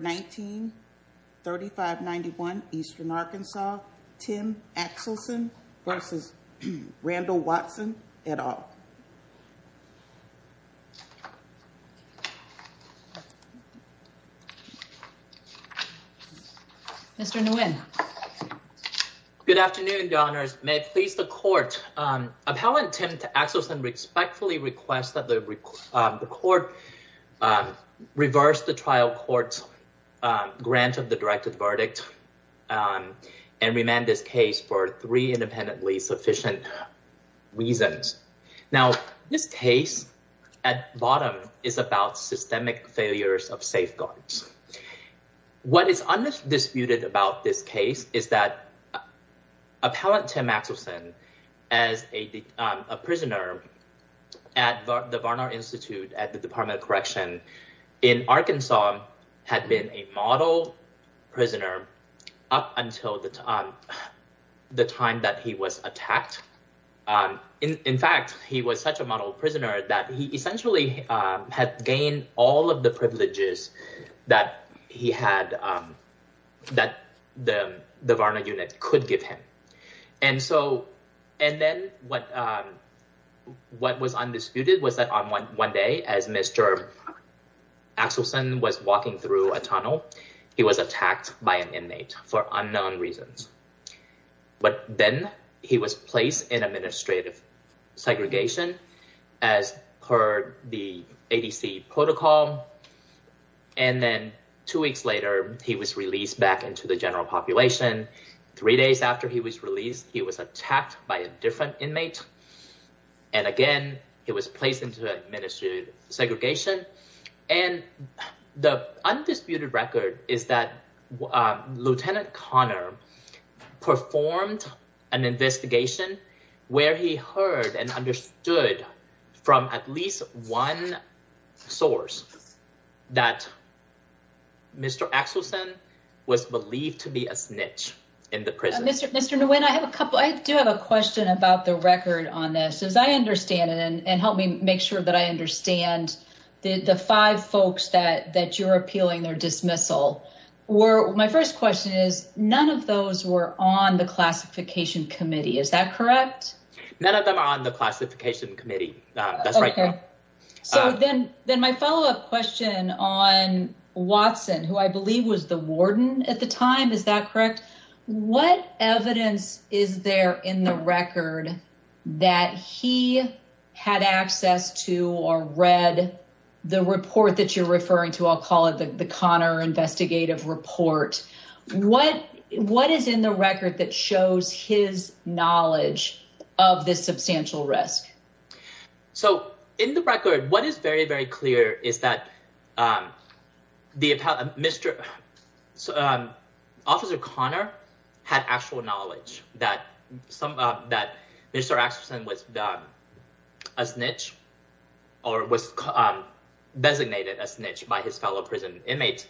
1935-91 Eastern Arkansas, Tim Axelson v. Randall Watson, et al. Mr. Nguyen. Good afternoon, Your Honors. May it please the Court. Appellant Tim Axelson respectfully requests that the Court reverse the trial court's grant of the directed verdict and remand this case for three independently sufficient reasons. Now, this case at bottom is about systemic failures of safeguards. What is undisputed about this case is that Appellant Tim Axelson, as a prisoner at the Varner Institute at the Department of Correction in Arkansas, had been a model prisoner up until the time that he was attacked. In fact, he was such a model prisoner that he essentially had gained all of the privileges that the Varner unit could give him. And then what was undisputed was that one day as Mr. Axelson was walking through a tunnel, he was attacked by an inmate for unknown reasons. But then he was placed in administrative segregation as per the ADC protocol. And then two weeks later, he was released back into the general population. Three days after he was released, he was attacked by a different inmate. And again, he was placed into administrative segregation. And the undisputed record is that Lieutenant Conner performed an investigation where he heard and understood from at least one source that Mr. Axelson was believed to be a snitch in the prison. Mr. Nguyen, I do have a question about the record on this. As I understand it, and help me make sure that I understand the five folks that you're appealing their dismissal. My first question is, none of those were on the classification committee. Is that correct? None of them are on the classification committee. That's right. So then my follow up question on Watson, who I believe was the warden at the time, is that correct? What evidence is there in the record that he had access to or read the report that you're referring to? I'll call it the Conner investigative report. What is in the record that shows his knowledge of this substantial risk? So in the record, what is very, very clear is that the officer Conner had actual knowledge that Mr. Axelson was a snitch or was designated a snitch by his fellow prison inmates.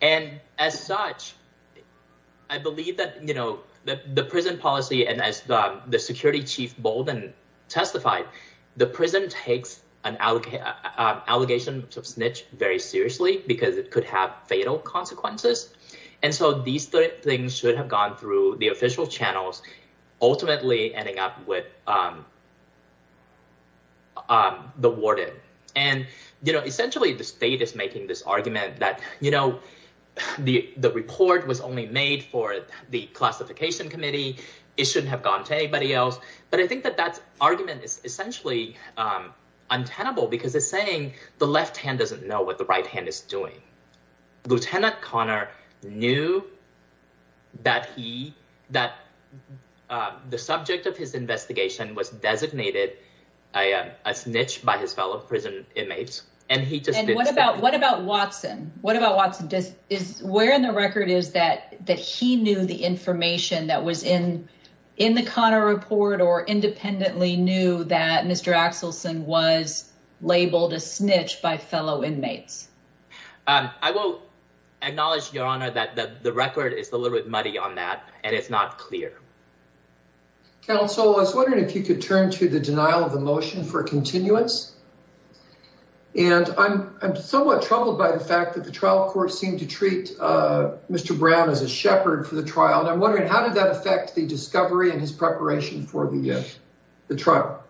And as such, I believe that the prison policy and as the security chief Bolden testified, the prison takes an allegation of snitch very seriously because it could have fatal consequences. And so these things should have gone through the official channels, ultimately ending up with the warden. And essentially, the state is making this argument that the report was only made for the classification committee. It shouldn't have gone to anybody else. But I think that that argument is essentially untenable because it's saying the left hand doesn't know what the right I am a snitch by his fellow prison inmates. And he just what about what about Watson? What about Watson does is where in the record is that that he knew the information that was in in the Connor report or independently knew that Mr. Axelson was labeled a snitch by fellow inmates? I will acknowledge your honor that the record is a little bit muddy on that. And it's not clear. Thank you, counsel. I was wondering if you could turn to the denial of the motion for continuance. And I'm I'm somewhat troubled by the fact that the trial court seemed to treat Mr. Brown as a shepherd for the trial. And I'm wondering how did that affect the discovery and his preparation for the trial?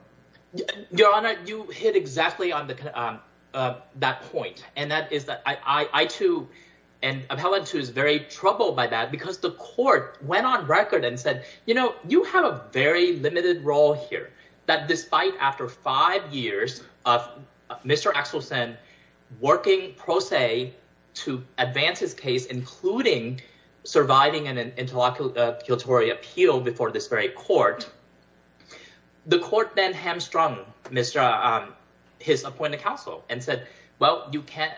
Your honor, you hit exactly on that point. And that is that I too, and I've had to is very troubled by that because the court went on record and said, you know, you have a very limited role here that despite after five years of Mr. Axelson working pro se to advance his case, including surviving an interlocutory appeal before this very court. The court then hamstrung Mr. his appointed counsel and said, well, you can't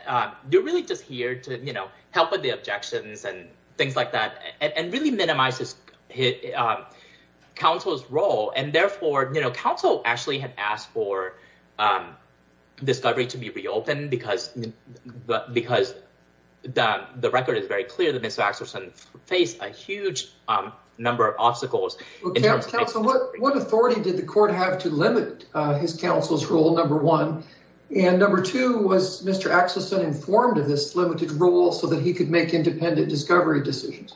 you're really just here to help with the objections and things like that and really minimize his counsel's role. And therefore, counsel actually had asked for discovery to be reopened because the record is very clear that Mr. Axelson faced a huge number of obstacles. What authority did the court have to limit his counsel's rule, number one? And number two, was Mr. Axelson informed of this limited role so that he could make independent discovery decisions?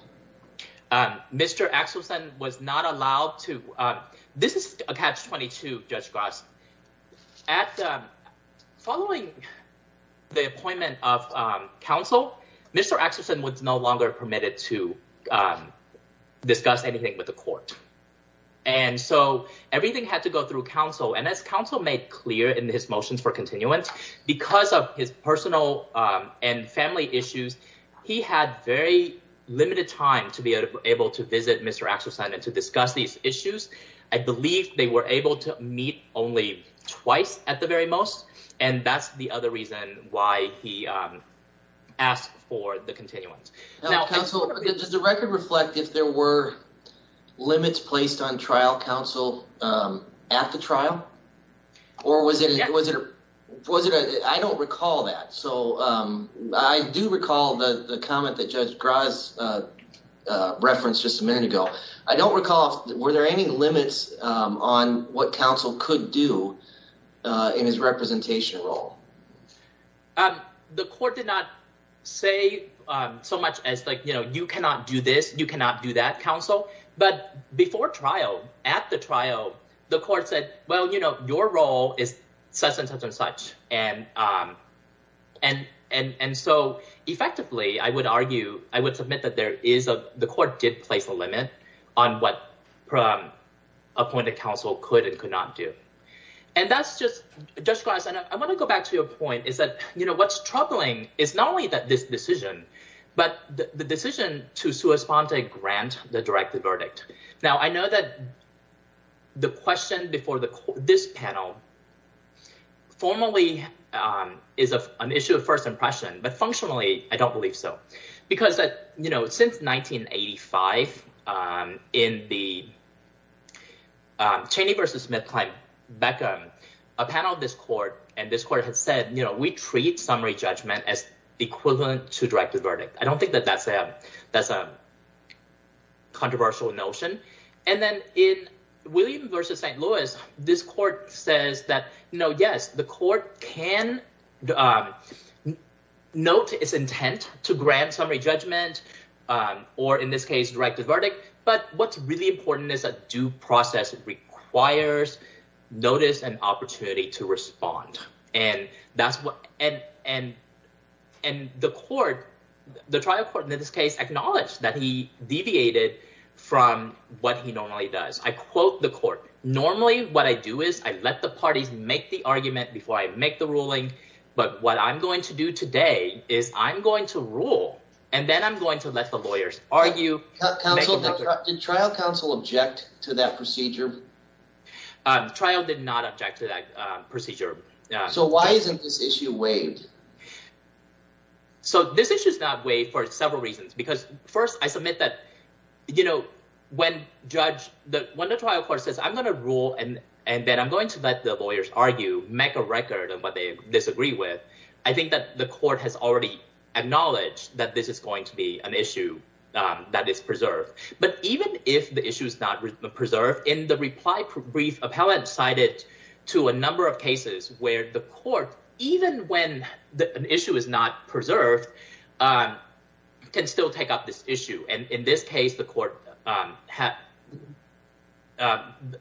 Mr. Axelson was not allowed to. This is a catch 22, Judge Goss. At the following the appointment of counsel, Mr. Axelson was no longer permitted to discuss anything with the court. And so everything had to go through counsel and as counsel made clear in his motions for his personal and family issues, he had very limited time to be able to visit Mr. Axelson and to discuss these issues. I believe they were able to meet only twice at the very most. And that's the other reason why he asked for the continuance. Now, does the record reflect if there were limits placed on trial counsel at the trial? I don't recall that. So I do recall the comment that Judge Goss referenced just a minute ago. I don't recall, were there any limits on what counsel could do in his representation role? The court did not say so much as like, you know, but before trial, at the trial, the court said, well, you know, your role is such and such and so effectively, I would argue, I would submit that there is a, the court did place a limit on what appointed counsel could and could not do. And that's just, Judge Goss, I want to go back to your point is that, you know, what's troubling is not only that this decision, but the decision to sue or respond to grant the directive verdict. Now, I know that the question before this panel formally is an issue of first impression, but functionally, I don't believe so. Because that, you know, since 1985, in the Cheney versus Smith-Klein-Beckham, a panel of this court, and this court has said, you know, we treat summary judgment as equivalent to directive verdict. I don't think that that's a controversial notion. And then in William versus St. Louis, this court says that, you know, yes, the court can note its intent to grant summary judgment, or in this case, directive verdict. But what's really important is that due process requires notice and opportunity to respond. And that's what, and the court, the trial court in this case, acknowledged that he deviated from what he normally does. I quote the court, normally what I do is I let the parties make the argument before I make the ruling. But what I'm going to do today is I'm going to rule, and then I'm going to let the lawyers argue. Counsel, did trial counsel object to that procedure? Trial did not object to that procedure. So why isn't this issue waived? So this issue is not waived for several reasons. Because first, I submit that, you know, when the trial court says, I'm going to rule, and then I'm going to let the lawyers argue, make a record of what they disagree with, I think that the court has already acknowledged that this is going to be an issue that is preserved. But even if the issue is not preserved, in the reply brief, appellant cited to a number of cases where the court, even when an issue is not preserved, can still take up this issue. And in this case, the court,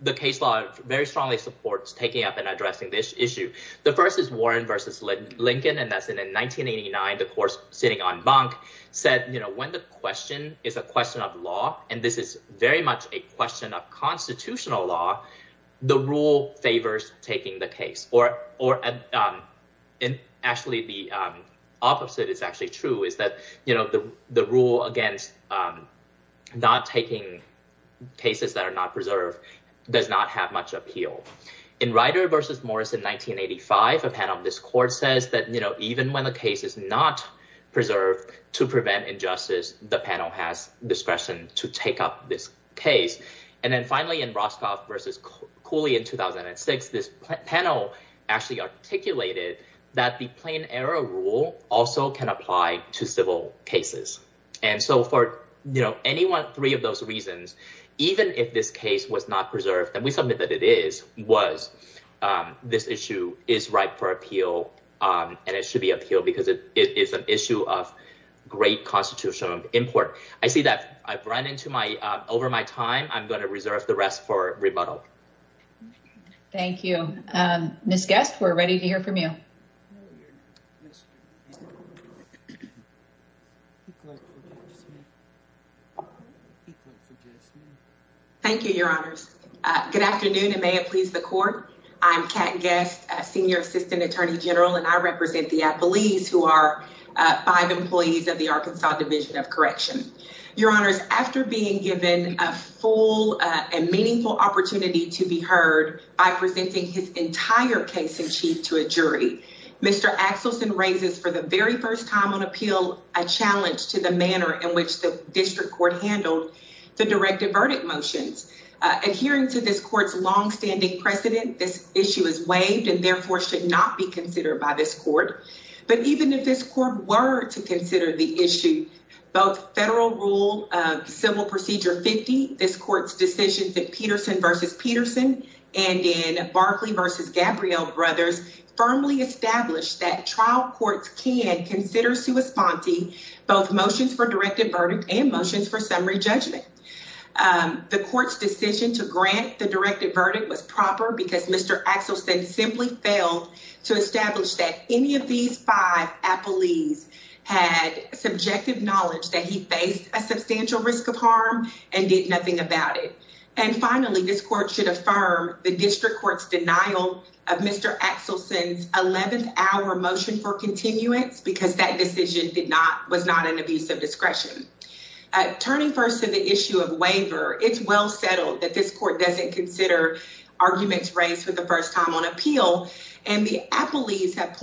the case law very strongly supports taking up and addressing this issue. The first is Warren versus Lincoln, and that's in 1989, the court sitting on bunk, said, you know, when the question is a question of law, and this is very much a question of constitutional law, the rule favors taking the case. Or actually, the opposite is actually true, is that, you know, the rule against not taking cases that are not preserved does not have much appeal. In Ryder versus Morris in 1985, a panel of this court says that, you know, even when the case is not preserved to prevent injustice, the panel has discretion to take up this case. And then finally, in Roscoff versus Cooley in 2006, this panel actually articulated that the plain error rule also can apply to civil cases. And so for, you know, anyone, three of those reasons, even if this case was not preserved, and we submit that it is, was, this issue is ripe for appeal, and it should be appealed because it is an issue of great constitutional import. I see that I've run into my, over my time, I'm going to reserve the rest for rebuttal. Thank you. Ms. Guest, we're ready to hear from you. Thank you, Your Honors. Good afternoon, and may it please the court. I'm Kat Guest, Senior Assistant Attorney General, and I represent the Appellees who are five employees of the Arkansas Division of Correction. Your Honors, after being given a meaningful opportunity to be heard by presenting his entire case in chief to a jury, Mr. Axelson raises for the very first time on appeal, a challenge to the manner in which the district court handled the directive verdict motions. Adhering to this court's longstanding precedent, this issue is waived and therefore should not be considered by this court. But even if this court were to consider the issue, both federal rule of civil procedure 50, this court's decision in Peterson v. Peterson and in Barclay v. Gabrielle Brothers firmly established that trial courts can consider sua sponte both motions for directive verdict and motions for summary judgment. The court's decision to grant the directive verdict was proper because Mr. Axelson simply failed to establish that any of these five appellees had subjective knowledge that he faced a substantial risk of harm and did nothing about it. And finally, this court should affirm the district court's denial of Mr. Axelson's 11th hour motion for continuance because that decision was not an abuse of discretion. Turning first to the issue of waiver, it's well settled that this court doesn't consider arguments raised for the first time on appeal, and the appellees have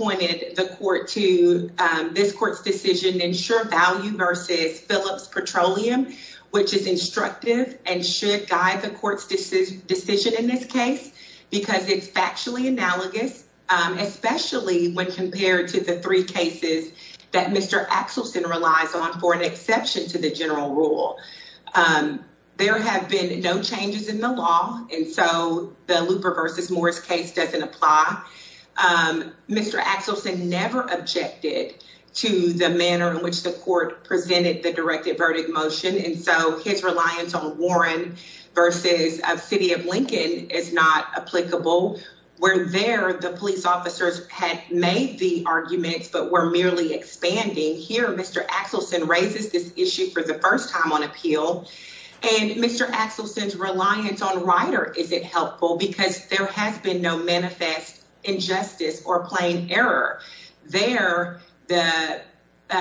to, this court's decision, ensure value versus Phillips Petroleum, which is instructive and should guide the court's decision in this case because it's factually analogous, especially when compared to the three cases that Mr. Axelson relies on for an exception to the general rule. There have been no changes in the law, and so the Looper v. Morris case doesn't apply. Mr. Axelson never objected to the manner in which the court presented the directive verdict motion, and so his reliance on Warren versus City of Lincoln is not applicable. Where there, the police officers had made the arguments but were merely expanding, here Mr. Axelson raises this issue for the first time on appeal, and Mr. Axelson's reliance on Rider isn't helpful because there has been no manifest injustice or plain error. There, the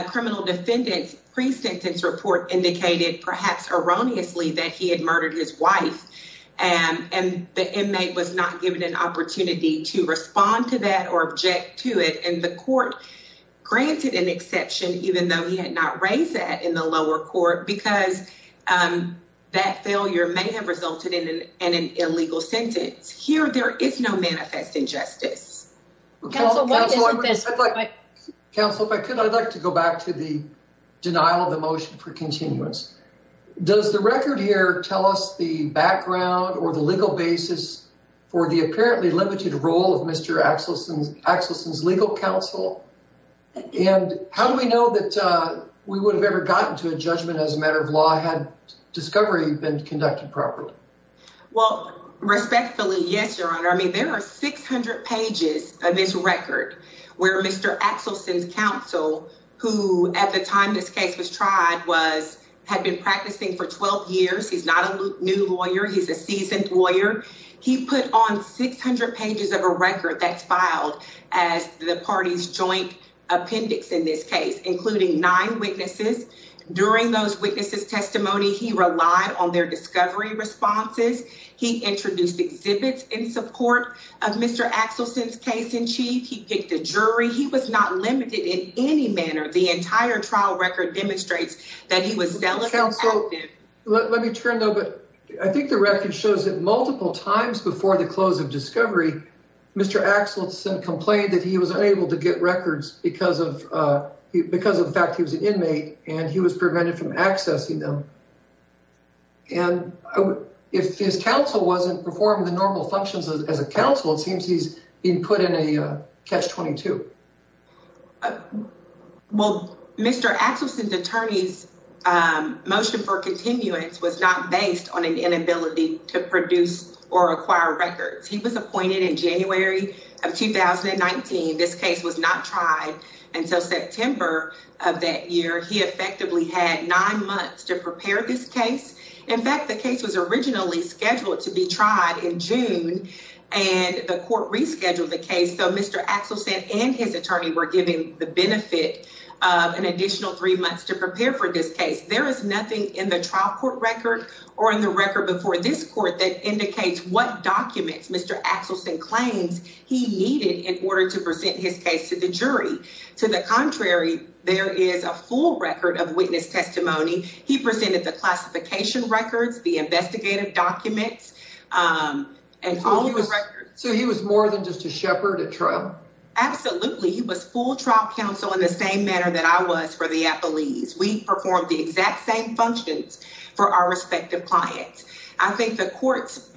criminal defendant's pre-sentence report indicated, perhaps erroneously, that he had murdered his wife, and the inmate was not given an opportunity to respond to that or object to it, and the court granted an exception even though he had not raised that in the lower court because that failure may have resulted in an illegal sentence. Here, there is no manifest injustice. Counsel, if I could, I'd like to go back to the denial of the motion for continuance. Does the record here tell us the background or the legal basis for the apparently limited role of Mr. Axelson's legal counsel, and how do we know that we would have ever gotten to a judgment as a matter of law had discovery been conducted properly? Well, respectfully, yes, your honor. I mean, there are 600 pages of this record where Mr. Axelson's counsel, who at the time this case was tried, had been practicing for 12 years. He's not a new lawyer. He's a seasoned lawyer. He put on 600 pages of a record that's filed as the party's joint appendix in this case, including nine witnesses. During those witnesses' testimony, he relied on their discovery responses. He introduced exhibits in support of Mr. Axelson's case in chief. He picked a jury. He was not limited in any manner. The entire trial record demonstrates that he was zealously active. Let me turn, though, but I think the record shows that multiple times before the close of discovery, Mr. Axelson complained that he was unable to get records because of the fact he was an inmate, and he was prevented from accessing them. And if his counsel wasn't performing the normal functions as a counsel, it seems he's being put in a catch-22. Well, Mr. Axelson's attorney's motion for continuance was not based on an inability to produce or acquire records. He was appointed in January of 2019. This case was not tried until September of that year. He effectively had nine months to prepare this case. In fact, the case was originally scheduled to be tried in June, and the court rescheduled the case, so Mr. Axelson and his attorney were given the benefit of an additional three months to prepare for this case. There is nothing in the trial court record or in the record before this court that indicates what documents Mr. Axelson claims he needed in order to present his case to the jury. To the contrary, there is a full record of witness testimony. He presented the classification records, the investigative documents, and all the records. So he was more than just a shepherd at trial? Absolutely. He was full trial counsel in the same manner that I was for the Applees. We performed the exact same functions for our respective clients. I think the court's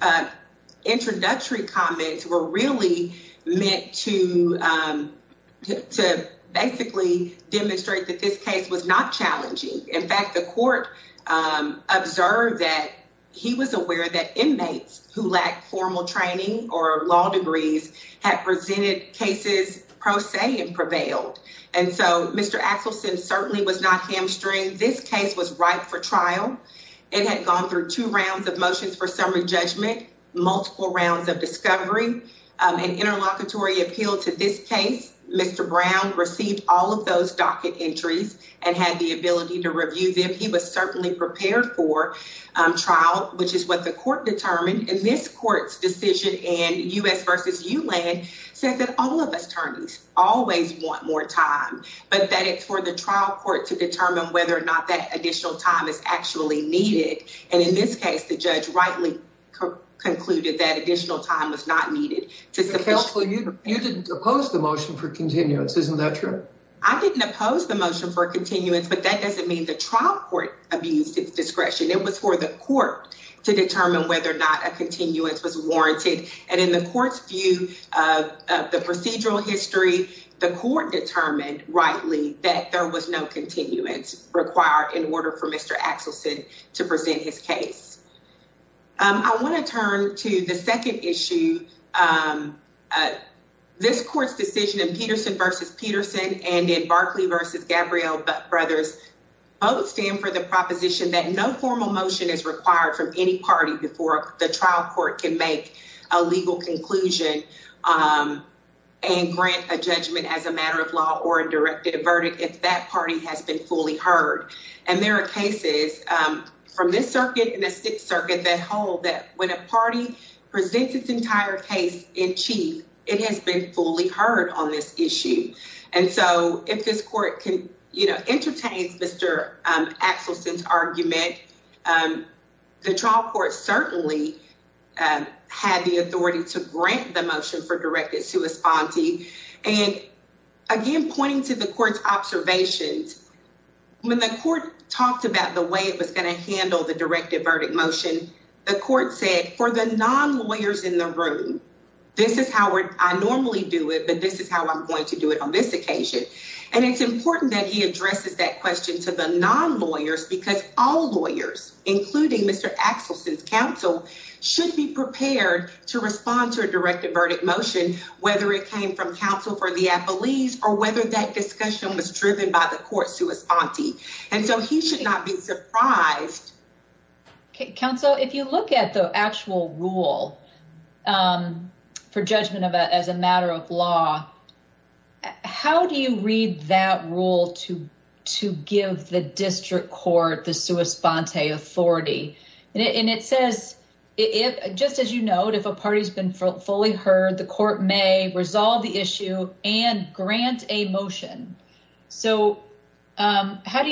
introductory comments were really meant to basically demonstrate that this case was not challenging. In fact, the court observed that he was aware that inmates who lacked formal training or law degrees had presented cases pro se and prevailed, and so Mr. Axelson certainly was not this case was ripe for trial. It had gone through two rounds of motions for summary judgment, multiple rounds of discovery, and interlocutory appeal to this case. Mr. Brown received all of those docket entries and had the ability to review them. He was certainly prepared for trial, which is what the court determined in this court's decision, and U.S. v. ULAND says that all whether or not that additional time is actually needed, and in this case, the judge rightly concluded that additional time was not needed. You didn't oppose the motion for continuance, isn't that true? I didn't oppose the motion for continuance, but that doesn't mean the trial court abused its discretion. It was for the court to determine whether or not a continuance was warranted, and in the court's view of the procedural history, the court determined rightly that there was no continuance required in order for Mr. Axelson to present his case. I want to turn to the second issue. This court's decision in Peterson v. Peterson and in Berkeley v. Gabrielle Brothers both stand for the proposition that no formal motion is required from any party before the trial court can make a legal conclusion and grant a judgment as a matter of law or a directed verdict if that party has been fully heard, and there are cases from this circuit and the Sixth Circuit that hold that when a party presents its entire case in chief, it has been fully heard on this issue, and so if this court can, you know, entertain Mr. Axelson's argument, the trial court certainly had the authority to grant the motion for directed to a sponte, and again, pointing to the court's observations, when the court talked about the way it was going to handle the directed verdict motion, the court said for the non-lawyers in the room, this is how I normally do it, but this is how I'm going to do it on this occasion, and it's important that he addresses that question to the non-lawyers because all lawyers, including Mr. Axelson's counsel, should be prepared to respond to a directed verdict motion, whether it came from counsel for the appellees or whether that discussion was driven by the court sua sponte, and so he should not be surprised. Okay, counsel, if you look at the actual rule for judgment as a matter of law, how do you read that rule to give the district court the sua sponte authority, and it says, just as you note, if a party's been fully heard, the court may resolve the issue and grant a motion, so how do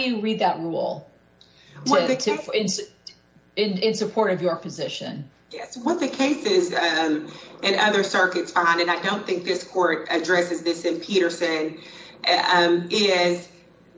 you read that rule in support of your position? Yes, what the cases and other circuits find, and I don't think this court addresses this in Peterson, is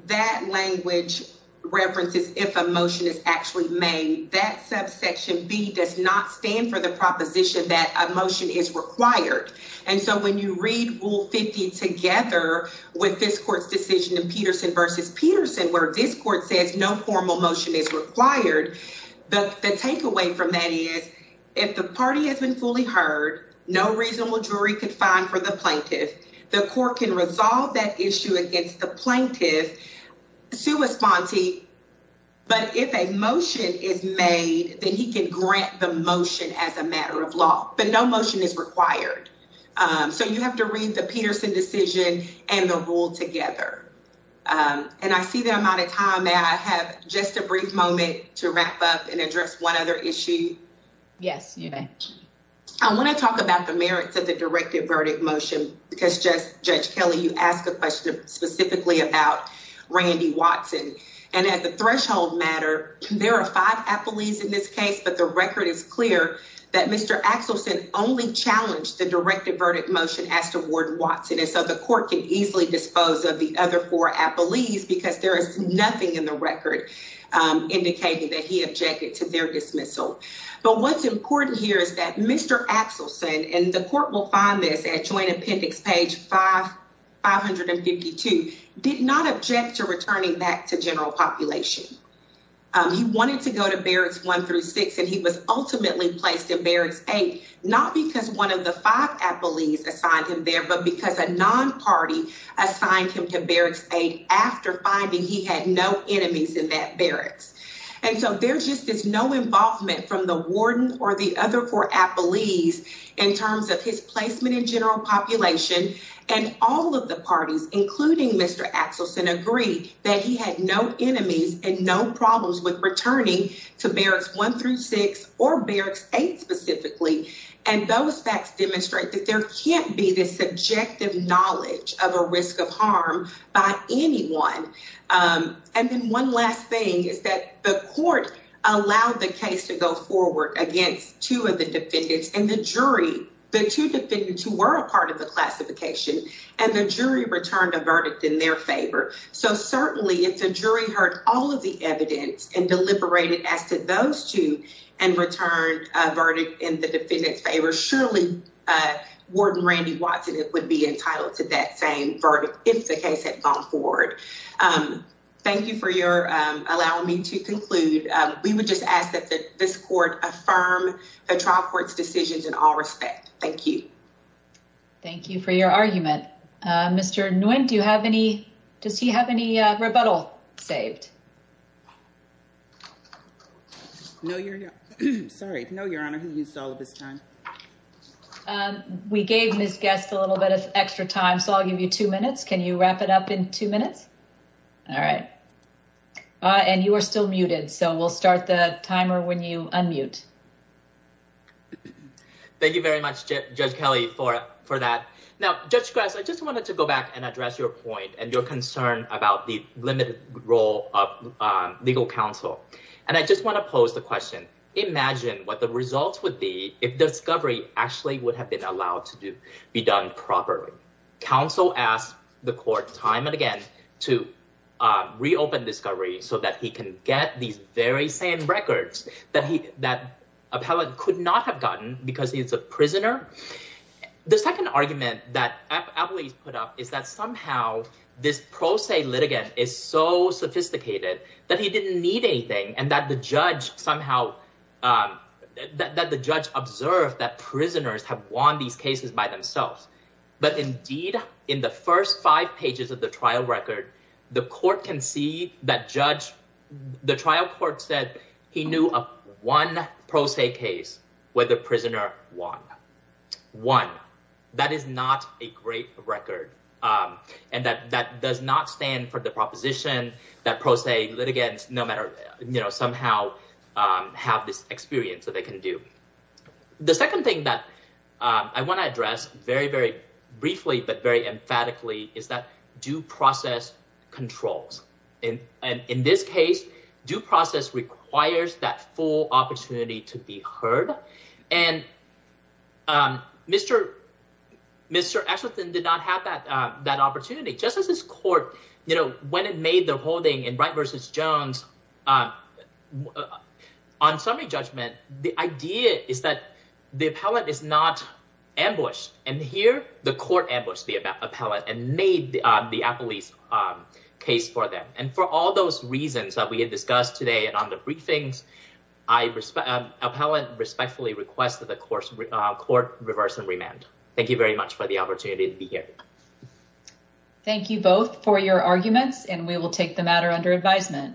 that language references if a motion is actually made. That subsection B does not stand for the proposition that a motion is required, and so when you read Rule 50 together with this court's decision in Peterson versus Peterson, where this court says no formal motion is required, the takeaway from that is if the party has been fully heard, no reasonable jury could find for the plaintiff. The court can resolve that issue against the plaintiff sua sponte, but if a motion is made, then he can grant the motion as a matter of law, but no motion is required, so you have to read the Peterson decision and the rule together, and I see that I'm out of time. May I have just a brief moment to wrap up and address one other issue? Yes, you may. I want to talk about the merits of the directed verdict motion because, Judge Kelly, you asked a question specifically about Randy Watson, and at the threshold matter, there are five appellees in this case, but the record is clear that Mr. Axelson only challenged the directed verdict motion as to Ward Watson, and so the court can easily dispose of the other four appellees because there is nothing in the record indicating that he objected to their dismissal, but what's important here is that Mr. Axelson, and the court will find this at joint appendix page 552, did not object to returning that to general population. He wanted to go to barracks one through six, and he was ultimately placed in barracks eight, not because one of the five appellees assigned him there, but because a non-party assigned him to barracks eight after finding he had no enemies in that barracks, and so there just is no involvement from the warden or the other four appellees in terms of his placement in general population, and all of the parties, including Mr. Axelson, agree that he had no enemies and no problems with returning to barracks one through six or barracks eight specifically, and those facts demonstrate that there can't be this subjective knowledge of a risk of harm by anyone, and then one last thing is that the court allowed the case to go forward against two of the defendants and the jury, the two defendants who were a part of the classification, and the jury returned a verdict in their favor, so certainly if the jury heard all of the evidence and deliberated as to and returned a verdict in the defendant's favor, surely Warden Randy Watson would be entitled to that same verdict if the case had gone forward. Thank you for allowing me to conclude. We would just ask that this court affirm the trial court's decisions in all respect. Thank you. Thank you for your argument. Mr. Nguyen, does he have any rebuttal saved? No, Your Honor. Sorry, no, Your Honor. He used all of his time. We gave Ms. Guest a little bit of extra time, so I'll give you two minutes. Can you wrap it up in two minutes? All right, and you are still muted, so we'll start the timer when you unmute. Thank you very much, Judge Kelly, for that. Now, Judge Gress, I just wanted to go back and address your point and your concern about the limited role of legal counsel, and I just want to pose the question. Imagine what the results would be if discovery actually would have been allowed to be done properly. Counsel asked the court time and again to reopen discovery so that he can get these very same records that appellant could not have gotten because he's a prisoner. The second argument that appellate put up is that somehow this pro se litigant is so sophisticated that he didn't need anything and that the judge somehow, that the judge observed that prisoners have won these cases by themselves. But indeed, in the first five pages of the trial record, the court can see that judge, the trial court said he knew of one pro se case where the one that is not a great record and that does not stand for the proposition that pro se litigants, no matter, somehow have this experience that they can do. The second thing that I want to address very, very briefly, but very emphatically is that due process controls. And in this case, due process requires that full opportunity to be heard. And Mr. Eshleton did not have that opportunity. Just as this court, when it made the holding in Wright versus Jones on summary judgment, the idea is that the appellate is not ambushed. And here, the court ambushed the appellate and made the appellate's case for them. And for all those reasons that we had discussed today and on the briefings, I appellate respectfully request that the court reverse and remand. Thank you very much for the opportunity to be here. Thank you both for your arguments, and we will take the matter under advisement.